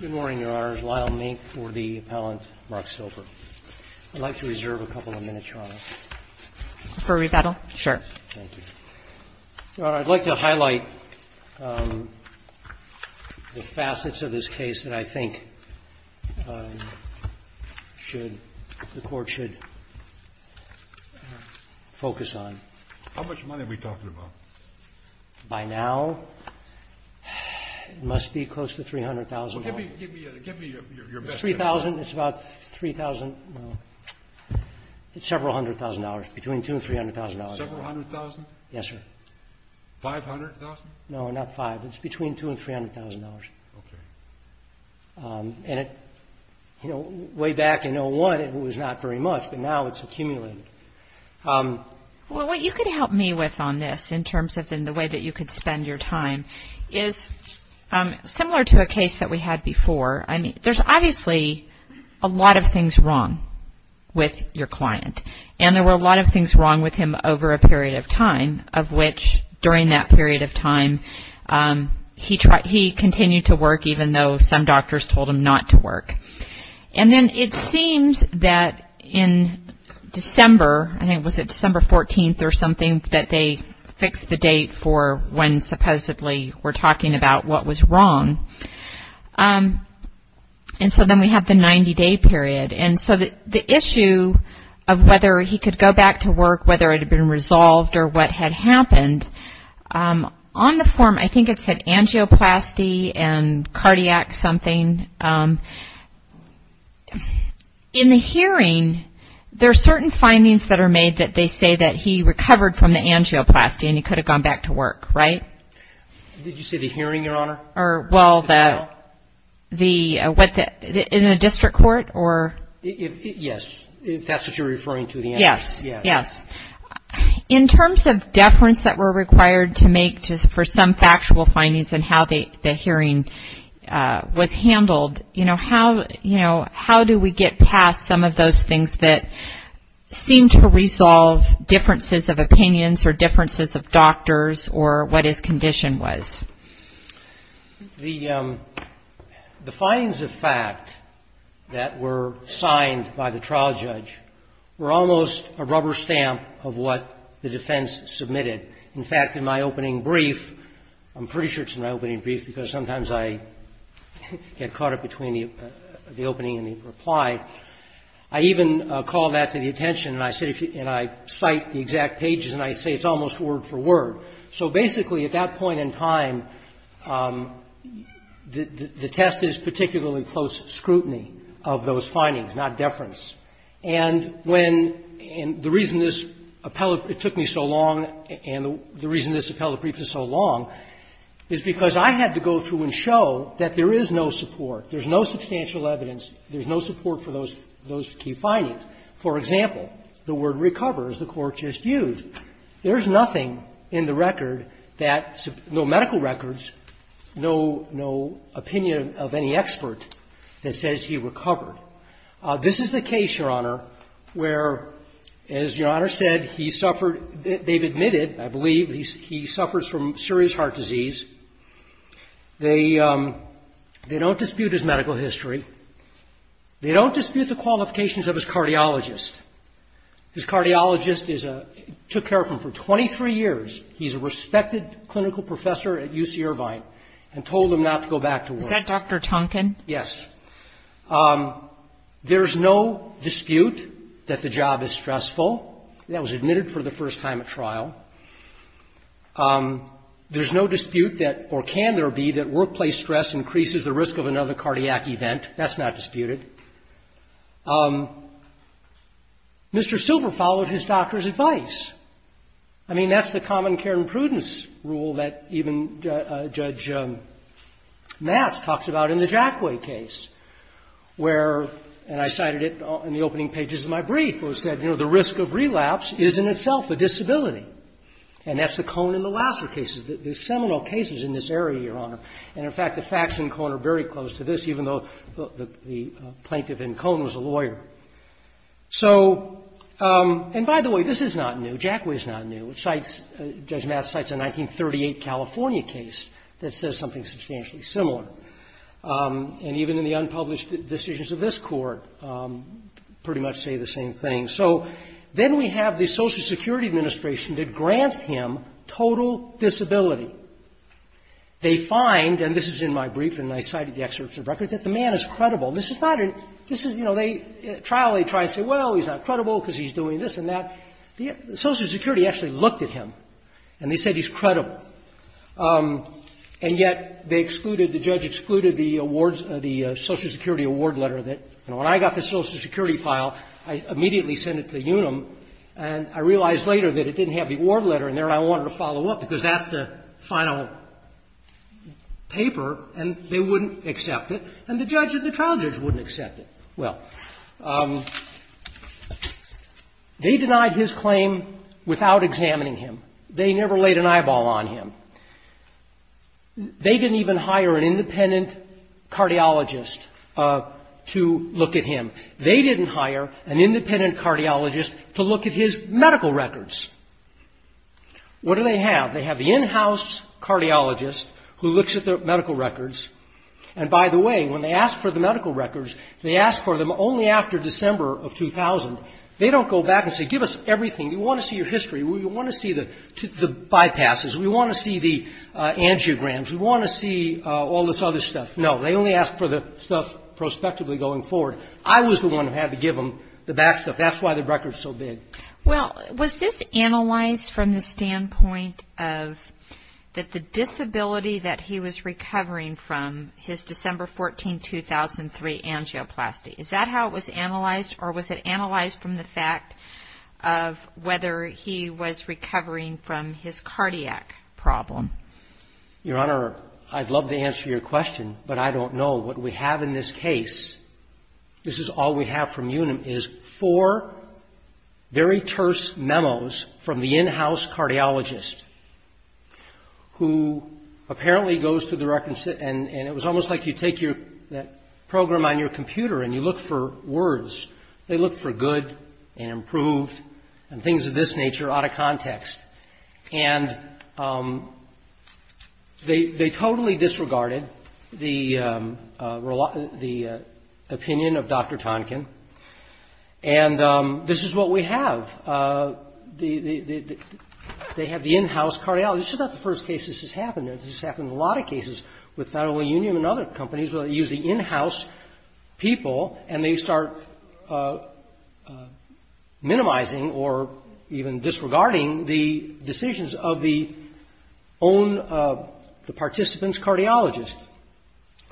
Good morning, Your Honors. Lyle Mink for the appellant, Mark Silver. I'd like to reserve a couple of minutes, Your Honor. For a rebuttal? Sure. Thank you. Your Honor, I'd like to highlight the facets of this case that I think the Court should focus on. How much money are we talking about? By now, it must be close to $300,000. Well, give me your best guess. It's $3,000. It's about $3,000. No. It's several hundred thousand dollars, between $200,000 and $300,000. Several hundred thousand? Yes, sir. Five hundred thousand? No, not five. It's between $200,000 and $300,000. Okay. And way back in 01, it was not very much, but now it's accumulated. Well, what you could help me with on this, in terms of the way that you could spend your time, is similar to a case that we had before. There's obviously a lot of things wrong with your client, and there were a lot of things wrong with him over a period of time, of which during that period of time, he continued to work, even though some doctors told him not to work. And then it seems that in December, I think it was December 14th or something, that they fixed the date for when supposedly we're talking about what was wrong. And so then we have the 90-day period. And so the issue of whether he could go back to work, whether it had been resolved or what had happened, on the form, I think it said angioplasty and in the hearing, there are certain findings that are made that they say that he recovered from the angioplasty and he could have gone back to work, right? Did you say the hearing, Your Honor? Or, well, the, what, in a district court or? Yes, if that's what you're referring to, the angioplasty. Yes, yes. In terms of deference that were required to make for some factual findings and how the hearing was handled, you know, how, you know, how do we get past some of those things that seem to resolve differences of opinions or differences of doctors or what his condition was? The findings of fact that were signed by the trial judge were almost a rubber stamp of what the defense submitted. In fact, in my opening brief, I'm pretty sure it's in my opening brief because sometimes I get caught up between the opening and the reply. I even call that to the attention, and I cite the exact pages, and I say it's almost word for word. So basically at that point in time, the test is particularly close scrutiny of those The reason this appellate brief is so long is because I had to go through and show that there is no support, there's no substantial evidence, there's no support for those key findings. For example, the word recovers, the Court just used. There is nothing in the record that, no medical records, no opinion of any expert that says he recovered. This is the case, Your Honor, where, as Your Honor said, he suffered, they've admitted, I believe, he suffers from serious heart disease. They don't dispute his medical history. They don't dispute the qualifications of his cardiologist. His cardiologist is a, took care of him for 23 years. He's a respected clinical professor at UC Irvine and told him not to go back to work. Is that Dr. Tonkin? Yes. There's no dispute that the job is stressful. That was admitted for the first time at trial. There's no dispute that, or can there be, that workplace stress increases the risk of another cardiac event. That's not disputed. Mr. Silver followed his doctor's advice. I mean, that's the common care and And I cited it in the opening pages of my brief, who said, you know, the risk of relapse is in itself a disability. And that's the Cohn and Lassner cases, the seminal cases in this area, Your Honor. And in fact, the facts in Cohn are very close to this, even though the plaintiff in Cohn was a lawyer. So, and by the way, this is not new. Jackway is not new. It cites, Judge Mathis cites a 1938 California case that says something substantially similar. And even in the unpublished decisions of this court, pretty much say the same thing. So then we have the Social Security Administration that grants him total disability. They find, and this is in my brief and I cited the excerpts of records, that the man is credible. This is not a, this is, you know, they, trial, they try and say, well, he's not credible because he's doing this and that. The Social Security actually looked at him, and they said he's credible. And yet, they excluded, the judge excluded the awards, the Social Security award letter that, you know, when I got the Social Security file, I immediately sent it to UNUM, and I realized later that it didn't have the award letter in there, and I wanted to follow up, because that's the final paper, and they wouldn't accept it. And the judge, the trial judge wouldn't accept it. Well, they denied his claim without examining him. They never laid an eyeball on him. They didn't even hire an independent cardiologist to look at him. They didn't hire an independent cardiologist to look at his medical records. What do they have? They have the in-house cardiologist who looks at the medical records, and by the way, when they ask for the medical records, they ask for them only after December of 2000. They don't go back and say, give us everything. We want to see your history. We want to see the bypasses. We want to see the angiograms. We want to see all this other stuff. No, they only ask for the stuff prospectively going forward. I was the one who had to give them the back stuff. That's why the record's so big. Well, was this analyzed from the standpoint of that the disability that he was recovering from, his December 14, 2003 angioplasty, is that how it was analyzed, or was it analyzed from the fact of whether he was recovering from his cardiac problem? Your Honor, I'd love to answer your question, but I don't know. What we have in this case, this is all we have from Unum, is four very terse memos from the in- house cardiologist who apparently goes to the record and it was almost like you put them on your computer and you look for words. They look for good and improved and things of this nature out of context. And they totally disregarded the opinion of Dr. Tonkin, and this is what we have. They have the in-house cardiologist. This is not the first case this has happened. This has happened in a lot of cases with not only Unum and other companies where they use the in- house cardiologist, but also other people, and they start minimizing or even disregarding the decisions of the own participants' cardiologist.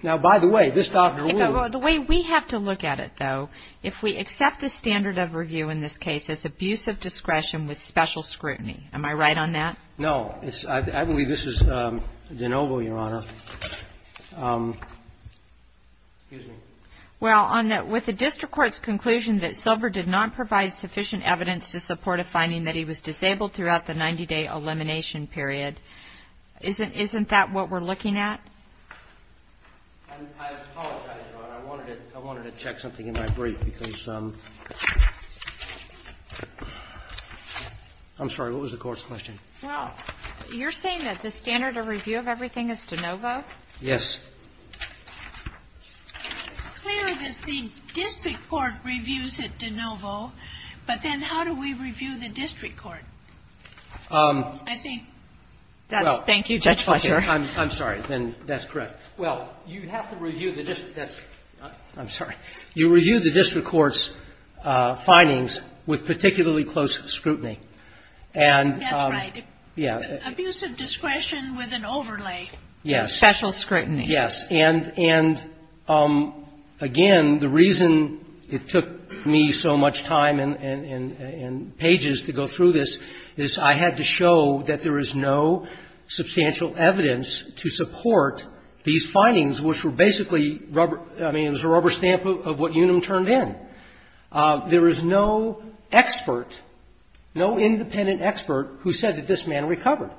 Now, by the way, this doctor would be able to do that. The way we have to look at it, though, if we accept the standard of review in this case as abuse of discretion with special scrutiny, am I right on that? Excuse me. Well, with the district court's conclusion that Silver did not provide sufficient evidence to support a finding that he was disabled throughout the 90-day elimination period, isn't that what we're looking at? I apologize, Your Honor. I wanted to check something in my brief because I'm sorry. What was the court's question? Well, you're saying that the standard of review of everything is de novo? Yes. It's clear that the district court reviews it de novo, but then how do we review the district court? I think that's thank you, Judge Fletcher. I'm sorry. Then that's correct. Well, you have to review the district court's findings with particularly close scrutiny. That's right. Yeah. Abuse of discretion with an overlay. Yes. Special scrutiny. Yes. And, again, the reason it took me so much time and pages to go through this is I had to show that there is no substantial evidence to support these findings which were basically rubber – I mean, it was a rubber stamp of what Unum turned in. There is no expert, no independent expert who said that this man recovered.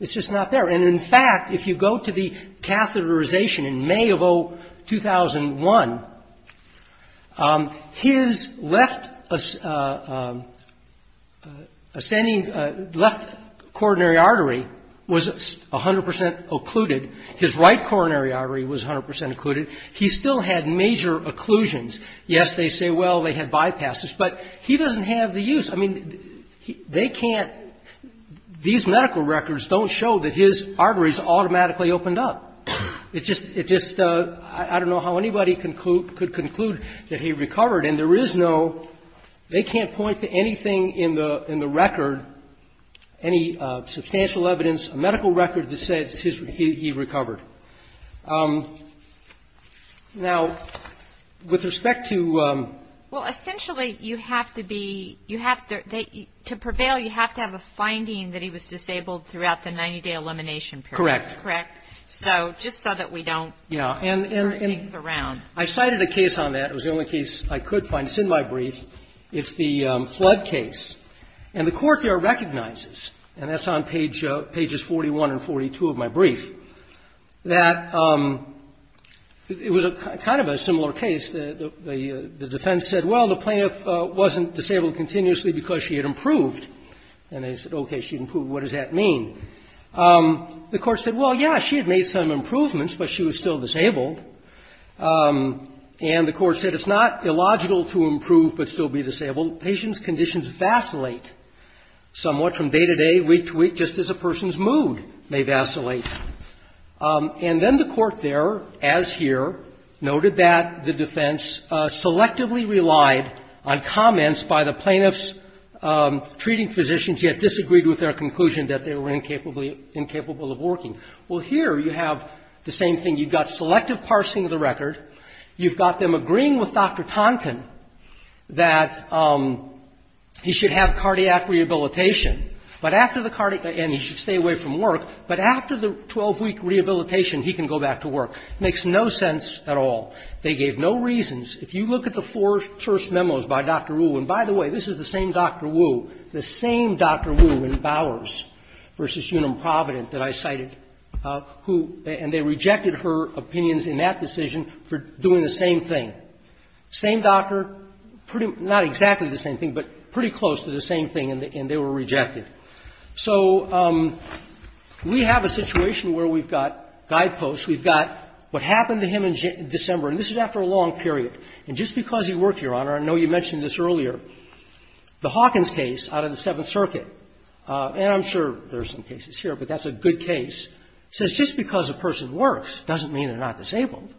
It's just not there. And, in fact, if you go to the catheterization in May of 2001, his left ascending – left coronary artery was 100 percent occluded. He still had major occlusions. Yes, they say, well, they had bypasses, but he doesn't have the use. I mean, they can't – these medical records don't show that his arteries automatically opened up. It just – it just – I don't know how anybody could conclude that he recovered. And there is no – they can't point to anything in the record, any substantial evidence, a medical record to say it's his – he recovered. Now, with respect to – Well, essentially, you have to be – you have to – to prevail, you have to have a finding that he was disabled throughout the 90-day elimination period. Correct. Correct. So just so that we don't – Yeah. And –– turn things around. I cited a case on that. It was the only case I could find. It's in my brief. It's the Flood case. And the Court there recognizes, and that's on page – pages 41 and 42 of my brief, that it was kind of a similar case. The defense said, well, the plaintiff wasn't disabled continuously because she had improved. And they said, okay, she improved. What does that mean? The Court said, well, yeah, she had made some improvements, but she was still disabled. And the Court said it's not illogical to improve but still be disabled. Patients' conditions vacillate somewhat from day to day, week to week, just as a person's mood may vacillate. And then the Court there, as here, noted that the defense selectively relied on comments by the plaintiff's treating physicians, yet disagreed with their conclusion that they were incapable of working. Well, here you have the same thing. You've got selective parsing of the record. You've got them agreeing with Dr. Tonkin that he should have cardiac rehabilitation, but after the cardiac – and he should stay away from work, but after the 12-week rehabilitation, he can go back to work. It makes no sense at all. They gave no reasons. If you look at the four first memos by Dr. Wu – and by the way, this is the same Dr. Wu, the same Dr. Wu in Bowers v. Unum Providence that I cited who – and they rejected her opinions in that decision for doing the same thing. Same doctor, pretty – not exactly the same thing, but pretty close to the same thing, and they were rejected. So we have a situation where we've got guideposts. We've got what happened to him in December, and this is after a long period. And just because he worked, Your Honor, I know you mentioned this earlier, the Hawkins case out of the Seventh Circuit – and I'm sure there are some cases here, but that's a good case – says just because a person works doesn't mean they're not disabled.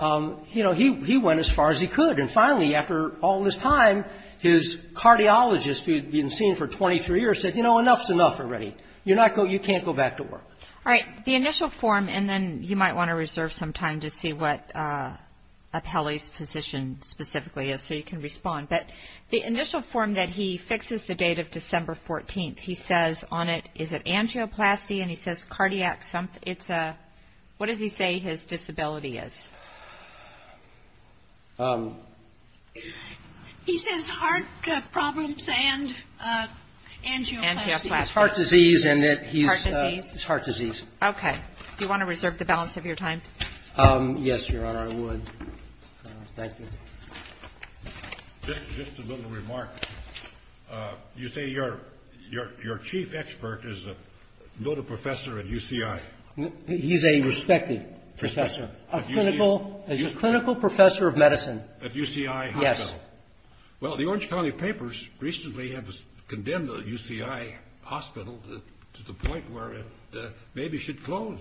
You know, he went as far as he could, and finally, after all this time, his cardiologist who had been seen for 23 years said, you know, enough's enough already. You're not – you can't go back to work. All right. The initial form – and then you might want to reserve some time to see what Appelli's position specifically is so you can respond. But the initial form that he fixes the date of December 14th, he says on it, is it angioplasty, and he says cardiac – it's a – what does he say his disability is? He says heart problems and angioplasty. Angioplasty. It's heart disease, and it – Heart disease. It's heart disease. Okay. Do you want to reserve the balance of your time? Yes, Your Honor, I would. Thank you. Just a little remark. You say your chief expert is a noted professor at UCI. He's a respected professor, a clinical professor of medicine. At UCI Hospital. Yes. Well, the Orange County Papers recently have condemned the UCI Hospital to the point where it maybe should close.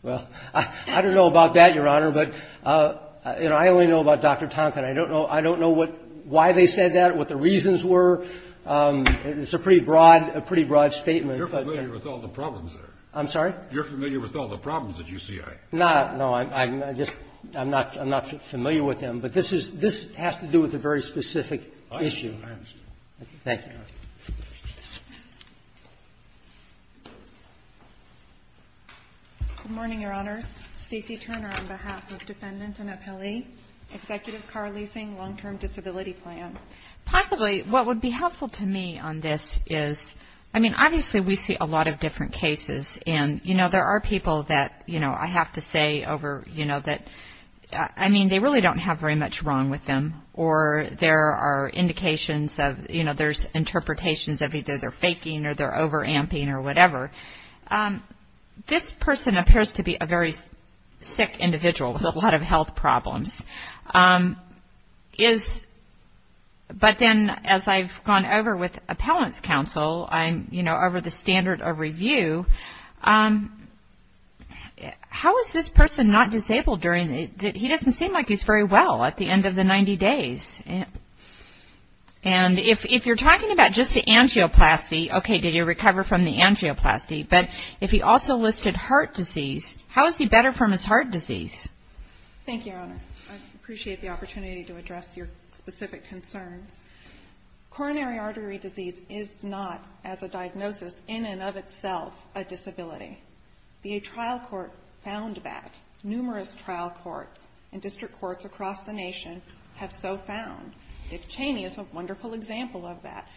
Well, I don't know about that, Your Honor, but, you know, I only know about Dr. Tonkin. I don't know – I don't know what – why they said that, what the reasons were. It's a pretty broad – a pretty broad statement. You're familiar with all the problems there. I'm sorry? You're familiar with all the problems at UCI. No, no. I'm just – I'm not – I'm not familiar with them. But this is – this has to do with a very specific issue. I understand. Thank you, Your Honor. Good morning, Your Honors. Stacey Turner on behalf of defendant and appellee, Executive Car Leasing Long-Term Disability Plan. Possibly what would be helpful to me on this is – I mean, obviously we see a lot of different cases, and, you know, there are people that, you know, I have to say over, you know, that – I mean, they really don't have very much wrong with them, or there are indications of – you know, there's interpretations of either they're faking or they're over-amping or whatever. This person appears to be a very sick individual with a lot of health problems. Is – but then as I've gone over with appellant's counsel, I'm, you know, over the standard of review. How is this person not disabled during the – And if you're talking about just the angioplasty, okay, did he recover from the angioplasty, but if he also listed heart disease, how is he better from his heart disease? Thank you, Your Honor. I appreciate the opportunity to address your specific concerns. Coronary artery disease is not, as a diagnosis, in and of itself, a disability. The trial court found that. Dick Cheney is a wonderful example of that.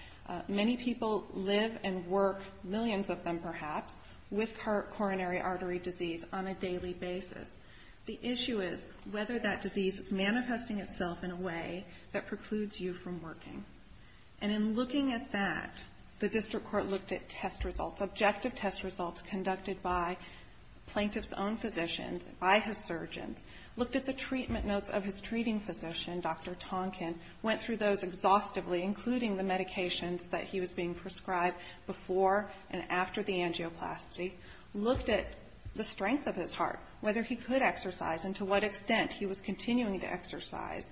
Many people live and work, millions of them perhaps, with coronary artery disease on a daily basis. The issue is whether that disease is manifesting itself in a way that precludes you from working. And in looking at that, the district court looked at test results, objective test results conducted by plaintiff's own physicians, by his surgeons, looked at the treatment notes of his treating physician, Dr. Tonkin, went through those exhaustively, including the medications that he was being prescribed before and after the angioplasty, looked at the strength of his heart, whether he could exercise and to what extent he was continuing to exercise,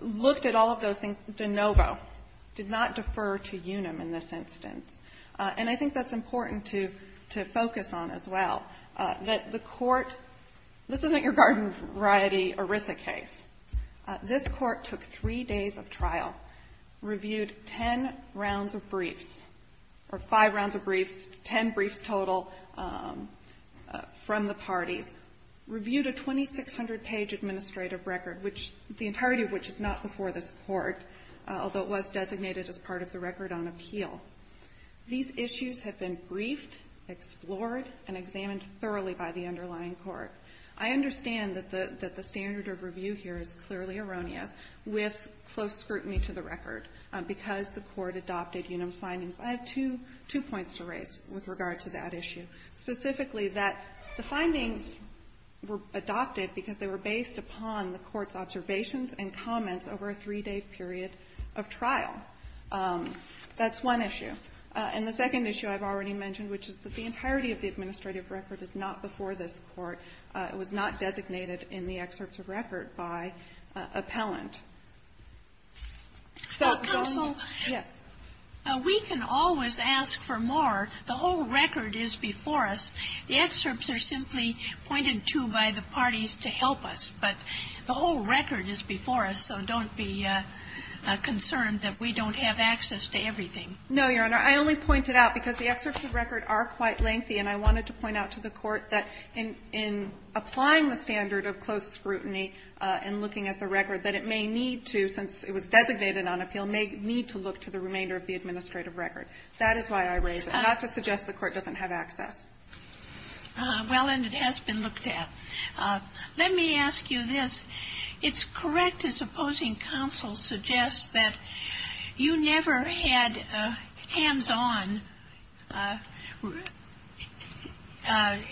looked at all of those things. De novo, did not defer to UNUM in this instance. And I think that's important to focus on as well. That the court, this isn't your garden variety ERISA case. This court took three days of trial, reviewed ten rounds of briefs, or five rounds of briefs, ten briefs total from the parties, reviewed a 2,600-page administrative record, the entirety of which is not before this court, although it was designated as part of the record on appeal. These issues have been briefed, explored, and examined thoroughly by the underlying court. I understand that the standard of review here is clearly erroneous, with close scrutiny to the record, because the court adopted UNUM's findings. I have two points to raise with regard to that issue, specifically that the findings were adopted because they were based upon the court's observations and comments over a three-day period of trial. That's one issue. And the second issue I've already mentioned, which is that the entirety of the administrative record is not before this court. It was not designated in the excerpts of record by appellant. So don't yes. Ginsburg. Counsel, we can always ask for more. The whole record is before us. The excerpts are simply pointed to by the parties to help us, but the whole record is before us, so don't be concerned that we don't have access to everything. No, Your Honor. I only point it out because the excerpts of record are quite lengthy, and I wanted to point out to the Court that in applying the standard of close scrutiny and looking at the record, that it may need to, since it was designated on appeal, may need to look to the remainder of the administrative record. That is why I raise it, not to suggest the Court doesn't have access. Well, and it has been looked at. Let me ask you this. It's correct, as opposing counsel suggests, that you never had a hands-on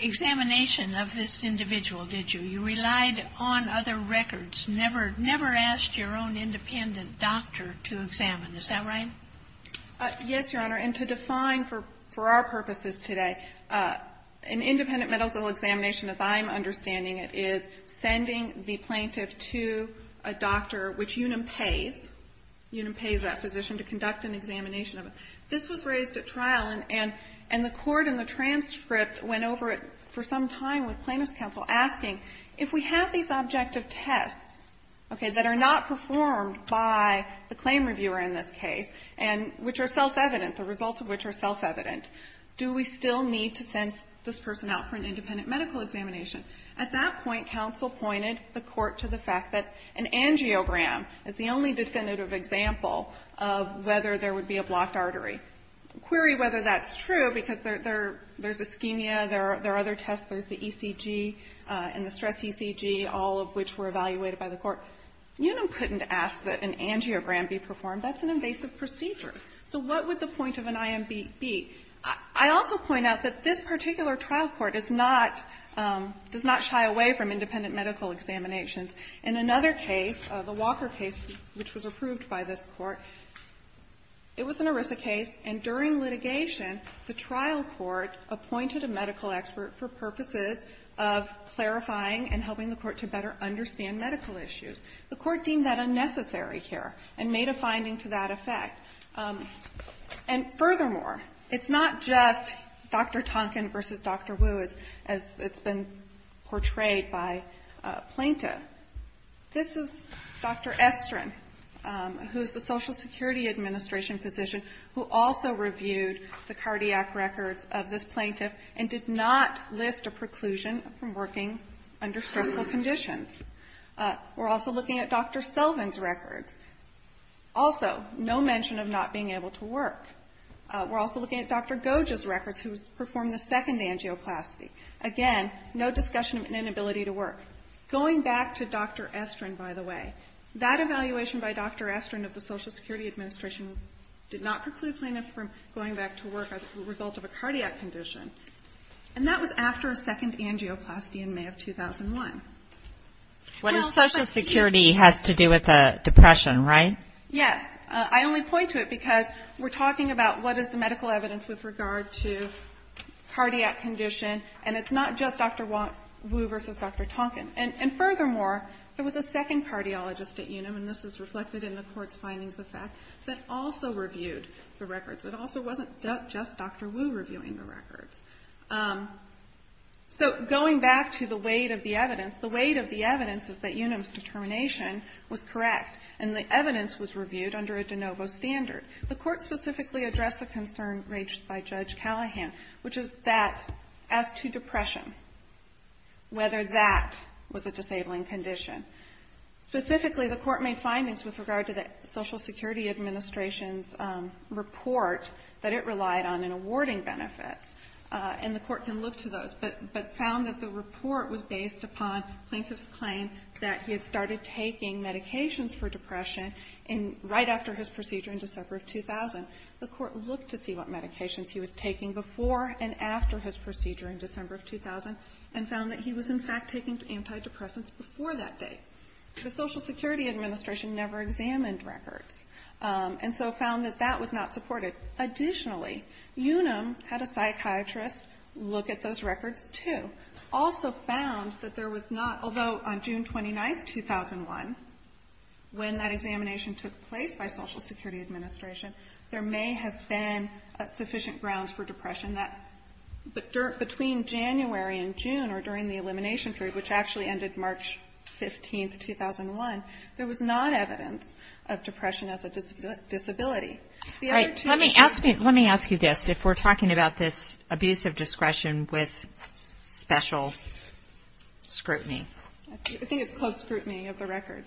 examination of this individual, did you? You relied on other records, never asked your own independent doctor to examine. Is that right? Yes, Your Honor. And to define for our purposes today, an independent medical examination, as I'm understanding it, is sending the plaintiff to a doctor, which UNAM pays. UNAM pays that physician to conduct an examination of him. This was raised at trial, and the Court in the transcript went over it for some time with plaintiff's counsel, asking, if we have these objective tests, okay, that are not performed by the claim reviewer in this case, and which are self-evident, the results of which are self-evident, do we still need to send this person out for an independent medical examination? At that point, counsel pointed the Court to the fact that an angiogram is the only definitive example of whether there would be a blocked artery. Query whether that's true, because there's ischemia, there are other tests, there's the ECG and the stress ECG, all of which were evaluated by the Court. UNAM couldn't ask that an angiogram be performed. That's an invasive procedure. So what would the point of an IMB be? I also point out that this particular trial court is not, does not shy away from independent medical examinations. In another case, the Walker case, which was approved by this Court, it was an ERISA case, and during litigation, the trial court appointed a medical expert for purposes of clarifying and helping the Court to better understand medical issues. The Court deemed that unnecessary here and made a finding to that effect. And furthermore, it's not just Dr. Tonkin versus Dr. Wu, as it's been portrayed by plaintiff. This is Dr. Estrin, who is the Social Security Administration physician, who also reviewed the cardiac records of this plaintiff and did not list a preclusion from working under stressful conditions. We're also looking at Dr. Selvin's records. Also, no mention of not being able to work. We're also looking at Dr. Goge's records, who performed the second angioplasty. Again, no discussion of inability to work. Going back to Dr. Estrin, by the way, that evaluation by Dr. Estrin of the Social Security Administration did not preclude plaintiff from going back to work as a result of a cardiac condition. And that was after a second angioplasty in May of 2001. What is Social Security has to do with depression, right? Yes. I only point to it because we're talking about what is the medical evidence with regard to cardiac condition, and it's not just Dr. Wu versus Dr. Tonkin. And furthermore, there was a second cardiologist at Unum, and this is reflected in the Court's findings of fact, that also reviewed the records. It also wasn't just Dr. Wu reviewing the records. So going back to the weight of the evidence, the weight of the evidence is that Unum's determination was correct, and the evidence was reviewed under a de novo standard. The Court specifically addressed the concern raised by Judge Callahan, which is that as to depression, whether that was a disabling condition. Specifically, the Court made findings with regard to the Social Security Administration's report that it relied on in awarding benefits, and the Court can look to those, but found that the report was based upon plaintiff's claim that he had started taking medications for depression right after his procedure in December of 2000. The Court looked to see what medications he was taking before and after his procedure in December of 2000, and found that he was, in fact, taking antidepressants before that date. The Social Security Administration never examined records, and so found that that was not supported. Additionally, Unum had a psychiatrist look at those records, too. Also found that there was not, although on June 29, 2001, when that examination took place by Social Security Administration, there may have been sufficient grounds for depression that between January and June, or during the elimination period, which actually ended March 15, 2001, there was not evidence of depression as a disability. All right. Let me ask you this. If we're talking about this abuse of discretion with special scrutiny. I think it's close scrutiny of the record.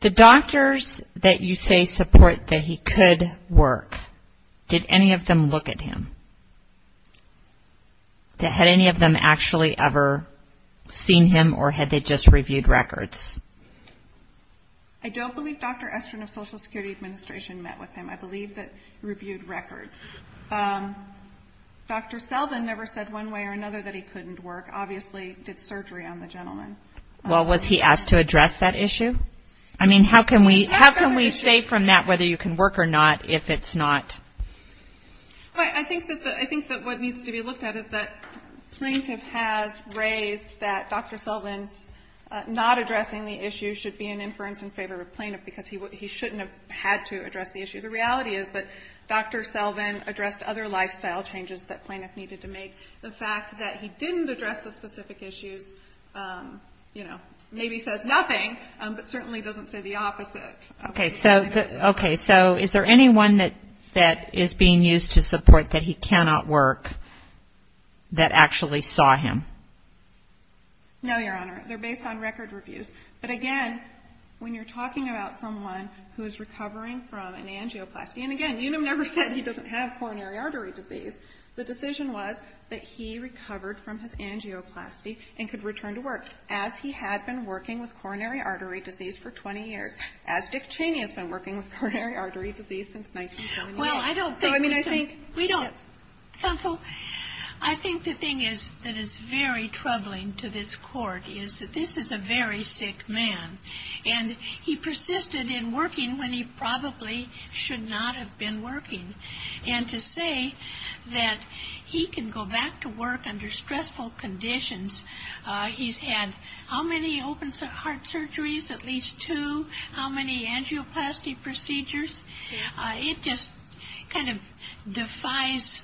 The doctors that you say support that he could work, did any of them look at him? Had any of them actually ever seen him, or had they just reviewed records? I don't believe Dr. Estrin of Social Security Administration met with him. I believe that he reviewed records. Dr. Selvin never said one way or another that he couldn't work. Obviously did surgery on the gentleman. Well, was he asked to address that issue? I mean, how can we say from that whether you can work or not if it's not? I think that what needs to be looked at is that plaintiff has raised that Dr. Selvin's not addressing the issue should be an inference in favor of plaintiff, because he shouldn't have had to address the issue. The reality is that Dr. Selvin addressed other lifestyle changes that plaintiff needed to make. The fact that he didn't address the specific issues, you know, maybe says nothing, but certainly doesn't say the opposite. Okay. So is there anyone that is being used to support that he cannot work that actually saw him? No, Your Honor. They're based on record reviews. But again, when you're talking about someone who is recovering from an angioplasty, and again, Unum never said he doesn't have coronary artery disease. The decision was that he recovered from his angioplasty and could return to work, as he had been working with coronary artery disease for 20 years, as Dick Cheney has been working with coronary artery disease since 1978. We don't. Counsel, I think the thing that is very troubling to this Court is that this is a very sick man. And he persisted in working when he probably should not have been working. And to say that he can go back to work under stressful conditions, he's had how many open-heart surgeries, at least two? How many angioplasty procedures? It just kind of defies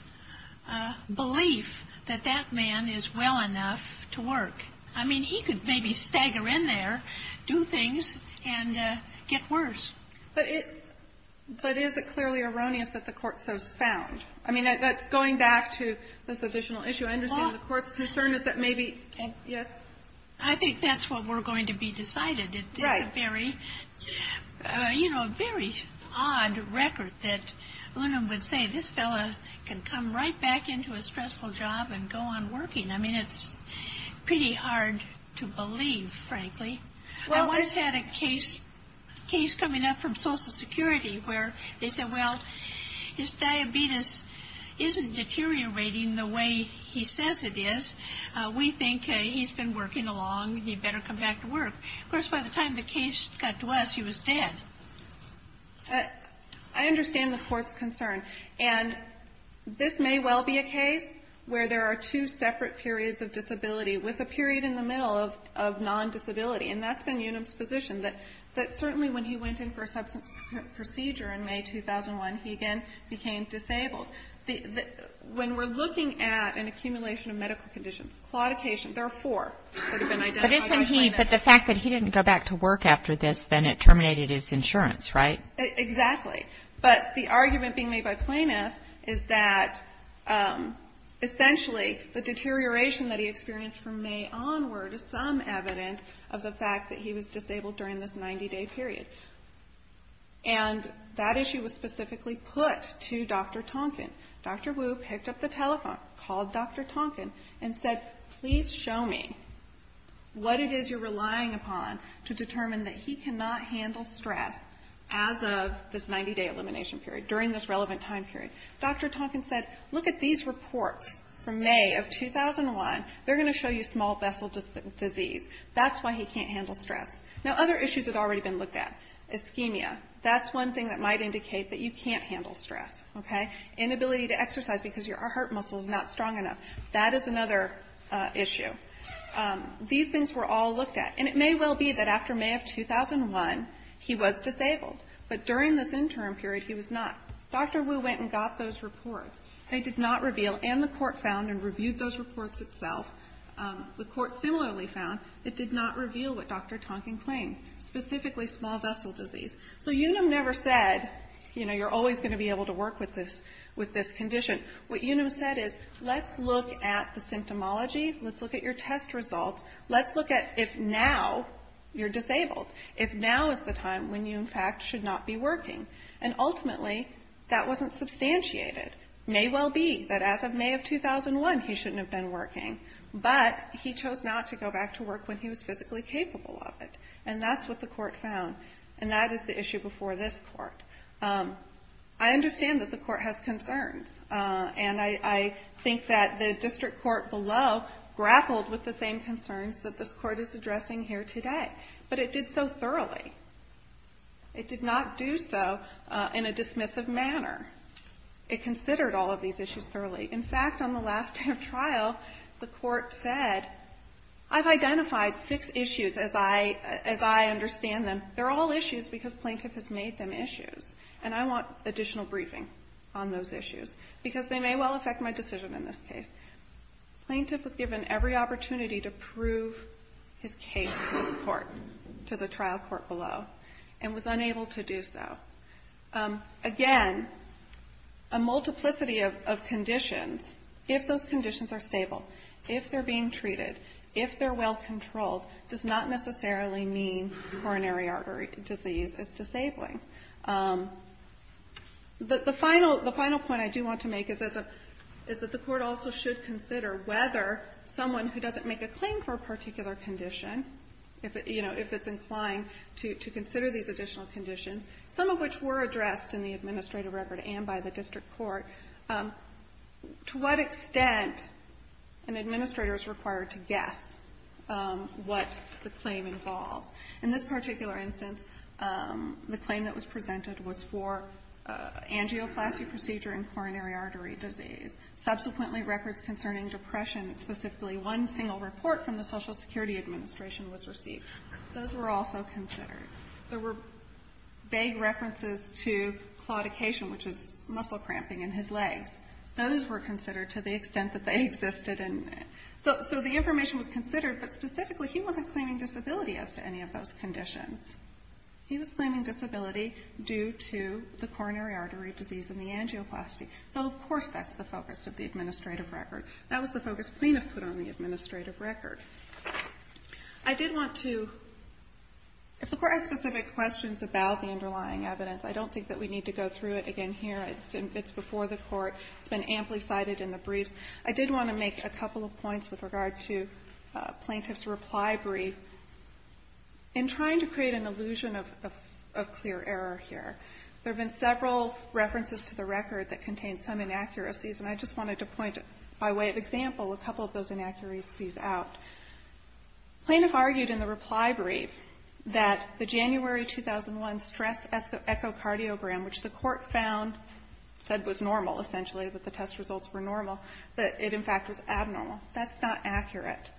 belief that that man is well enough to work. I mean, he could maybe stagger in there, do things, and get worse. But is it clearly erroneous that the Court so found? I mean, that's going back to this additional issue. I understand the Court's concern is that maybe, yes. I think that's what we're going to be decided. It's a very, you know, very odd record that UNAM would say this fellow can come right back into a stressful job and go on working. I mean, it's pretty hard to believe, frankly. I once had a case coming up from Social Security where they said, well, his diabetes isn't deteriorating the way he says it is. We think he's been working along. He'd better come back to work. Of course, by the time the case got to us, he was dead. I understand the Court's concern. And this may well be a case where there are two separate periods of disability with a period in the middle of non-disability. And that's been UNAM's position, that certainly when he went in for a substance procedure in May 2001, he again became disabled. When we're looking at an accumulation of medical conditions, claudication, there are four that have been identified by this. But the fact that he didn't go back to work after this, then it terminated his insurance, right? Exactly. But the argument being made by plaintiffs is that essentially the deterioration that he experienced from May onward is some evidence of the fact that he was disabled during this 90-day period. And that issue was specifically put to Dr. Tonkin. Dr. Wu picked up the telephone, called Dr. Tonkin, and said, please show me what it is you're relying upon to determine that he cannot handle stress as of this 90-day elimination period, during this relevant time period. Dr. Tonkin said, look at these reports from May of 2001. They're going to show you small vessel disease. That's why he can't handle stress. Now, other issues have already been looked at. Ischemia, that's one thing that might indicate that you can't handle stress, you're not strong enough. That is another issue. These things were all looked at. And it may well be that after May of 2001, he was disabled. But during this interim period, he was not. Dr. Wu went and got those reports. They did not reveal, and the Court found and reviewed those reports itself, the Court similarly found it did not reveal what Dr. Tonkin claimed, specifically small vessel disease. So Unum never said, you know, you're always going to be able to work with this condition. What Unum said is, let's look at the symptomology, let's look at your test results, let's look at if now you're disabled, if now is the time when you, in fact, should not be working. And ultimately, that wasn't substantiated. May well be that as of May of 2001, he shouldn't have been working. But he chose not to go back to work when he was physically capable of it. And that's what the Court found. And that is the issue before this Court. I understand that the Court has concerns. And I think that the district court below grappled with the same concerns that this Court is addressing here today. But it did so thoroughly. It did not do so in a dismissive manner. It considered all of these issues thoroughly. In fact, on the last day of trial, the Court said, I've identified six issues as I understand them. They're all issues because plaintiff has made them issues. And I want additional briefing on those issues, because they may well affect my decision in this case. Plaintiff was given every opportunity to prove his case to this Court, to the trial court below, and was unable to do so. Again, a multiplicity of conditions, if those conditions are stable, if they're being treated, if they're well treated, then that's a good sign that the heart or disease is disabling. The final point I do want to make is that the Court also should consider whether someone who doesn't make a claim for a particular condition, you know, if it's inclined to consider these additional conditions, some of which were addressed in the administrative record and by the district court, to what extent an administrator is required to guess what the claim involves. In this particular instance, the claim that was presented was for angioplasty procedure and coronary artery disease. Subsequently, records concerning depression, specifically one single report from the Social Security Administration was received. Those were also considered. There were vague references to claudication, which is muscle cramping in his legs. Those were considered to the extent that they existed. So the information was considered, but specifically he wasn't claiming disability as to any of those conditions. He was claiming disability due to the coronary artery disease and the angioplasty. So, of course, that's the focus of the administrative record. That was the focus plaintiff put on the administrative record. I did want to, if the Court has specific questions about the underlying evidence, I don't think that we need to go through it again here. It's before the Court. It's been in the plaintiff's reply brief. In trying to create an illusion of clear error here, there have been several references to the record that contain some inaccuracies, and I just wanted to point, by way of example, a couple of those inaccuracies out. Plaintiff argued in the reply brief that the January 2001 stress echocardiogram, which the Court found said was normal, essentially, that the test results were normal, that it, in fact, was abnormal. That's not accurate.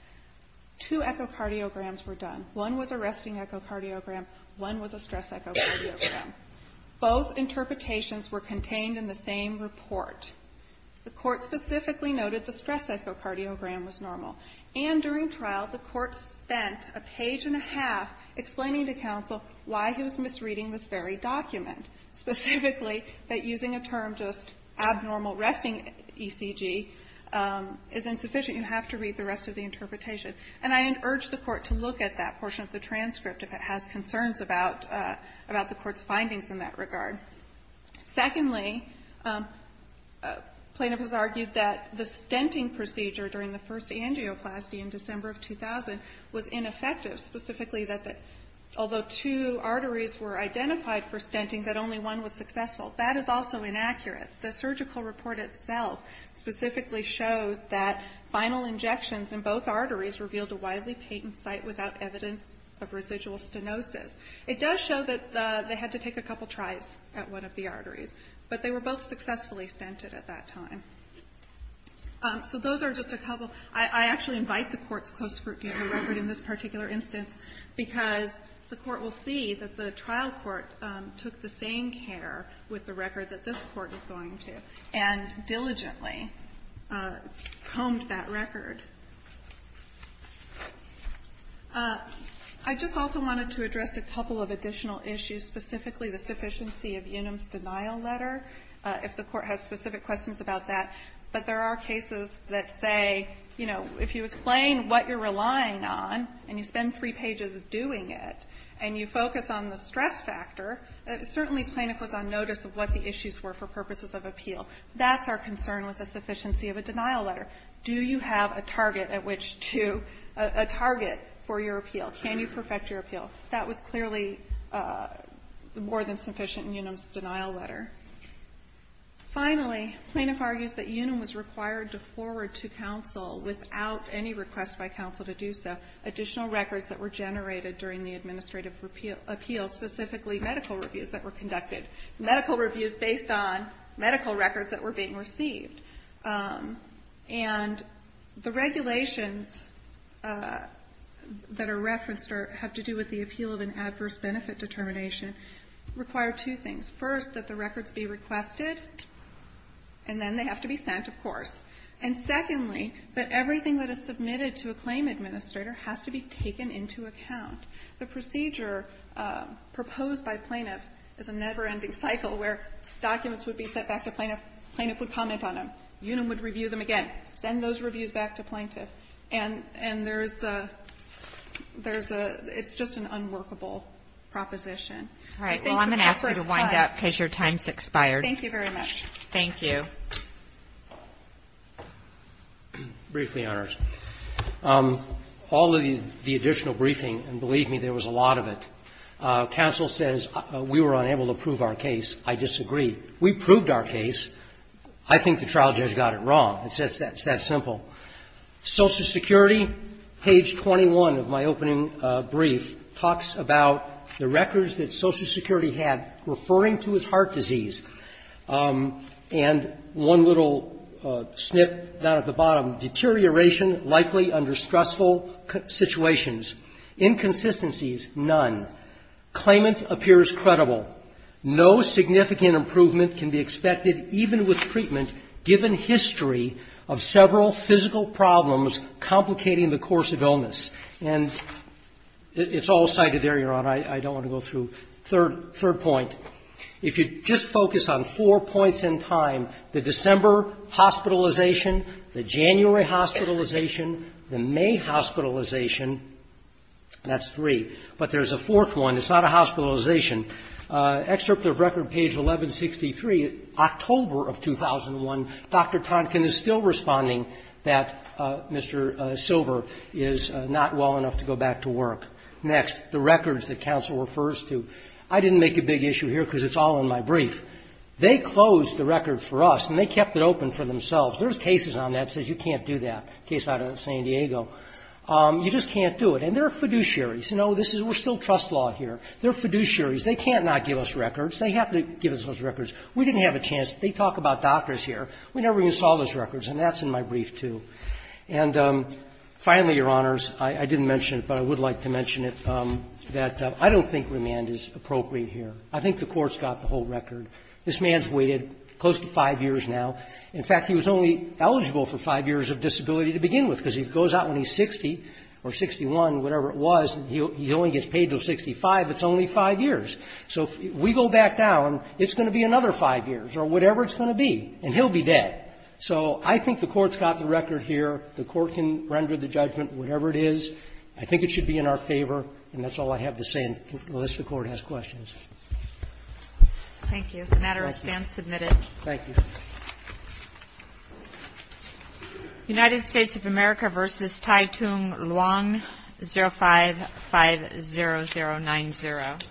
Two echocardiograms were done. One was a resting echocardiogram. One was a stress echocardiogram. Both interpretations were contained in the same report. The Court specifically noted the stress echocardiogram was normal. And during trial, the Court spent a page and a half explaining to counsel why he was misreading this very document, specifically that using a term just abnormal resting ECG is insufficient. You have to read the rest of the interpretation. And I urge the Court to look at that portion of the transcript if it has concerns about the Court's findings in that regard. Secondly, plaintiff has argued that the stenting procedure during the first angioplasty in December of 2000 was ineffective, specifically that although two arteries were identified for stenting, that only one was successful. That is also inaccurate. The surgical report itself specifically shows that final injections in both arteries revealed a widely patent site without evidence of residual stenosis. It does show that they had to take a couple tries at one of the arteries, but they were both successfully stented at that time. So those are just a couple. I actually invite the Court's close review of the record in this particular instance, because the Court will see that the trial court took the same care with the record that this Court is going to and diligently combed that record. I just also wanted to address a couple of additional issues, specifically the sufficiency of Unum's denial letter, if the Court has specific questions about that. But there are cases that say, you know, if you explain what you're relying on and you spend three pages doing it and you focus on the stress factor, certainly plaintiff was on notice of what the issues were for purposes of appeal. That's our concern with the sufficiency of a denial letter. Do you have a target for your appeal? Can you perfect your appeal? That was clearly more than sufficient in Unum's denial letter. Finally, plaintiff argues that Unum was required to forward to counsel without any request by counsel to do so additional records that were generated during the administrative appeal, specifically medical reviews that were conducted. Medical reviews based on medical records that were being received. And the regulations that are referenced have to do with the appeal of an adverse benefit determination require two things. First, that the records be requested, and then they have to be sent, of course. And secondly, that everything that is submitted to a claim administrator has to be taken into account. The procedure proposed by plaintiff is a never-ending cycle where documents would be sent back to plaintiff, plaintiff would comment on them, Unum would review them again, send those reviews back to plaintiff, and there's a, there's a, it's just an unworkable proposition. Kagan. All right. Well, I'm going to ask you to wind up because your time has expired. Thank you very much. Thank you. Briefly, Your Honors. All of the additional briefing, and believe me, there was a lot of it, counsel says we were unable to prove our case. I disagree. We proved our case. I think the trial judge got it wrong. It's just that simple. Social Security, page 21 of my opening brief, talks about the records that Social Security had referring to his heart disease, and one little snip down at the bottom, deterioration likely under stressful situations. Inconsistencies, none. Claimant appears credible. No significant improvement can be expected even with treatment given history of several physical problems complicating the course of illness. And it's all cited there, Your Honor. I don't want to go through. Third, third point. If you just focus on four points in time, the December hospitalization, the January hospitalization, the May hospitalization, that's three. But there's a fourth one. It's not a hospitalization. Excerpt of record, page 1163, October of 2001, Dr. Tonkin is still responding that Mr. Silver is not well enough to go back to work. Next, the records that counsel refers to. I didn't make a big issue here because it's all in my brief. They closed the record for us, and they kept it open for themselves. There's cases on that that says you can't do that, a case out of San Diego. You just can't do it. And there are fiduciaries. You know, this is we're still trust law here. They're fiduciaries. They can't not give us records. They have to give us those records. We didn't have a chance. They talk about doctors here. We never even saw those records, and that's in my brief, too. And finally, Your Honors, I didn't mention it, but I would like to mention it, that I don't think remand is appropriate here. I think the Court's got the whole record. This man's waited close to five years now. In fact, he was only eligible for five years of disability to begin with because he goes out when he's 60 or 61, whatever it was, and he only gets paid until 65. It's only five years. So if we go back down, it's going to be another five years or whatever it's going to be, and he'll be dead. So I think the Court's got the record here. The Court can render the judgment, whatever it is. I think it should be in our favor, and that's all I have to say, unless the Court has questions. Thank you. The matter is then submitted. Thank you. United States of America v. Tai Tung Luong, 0550090.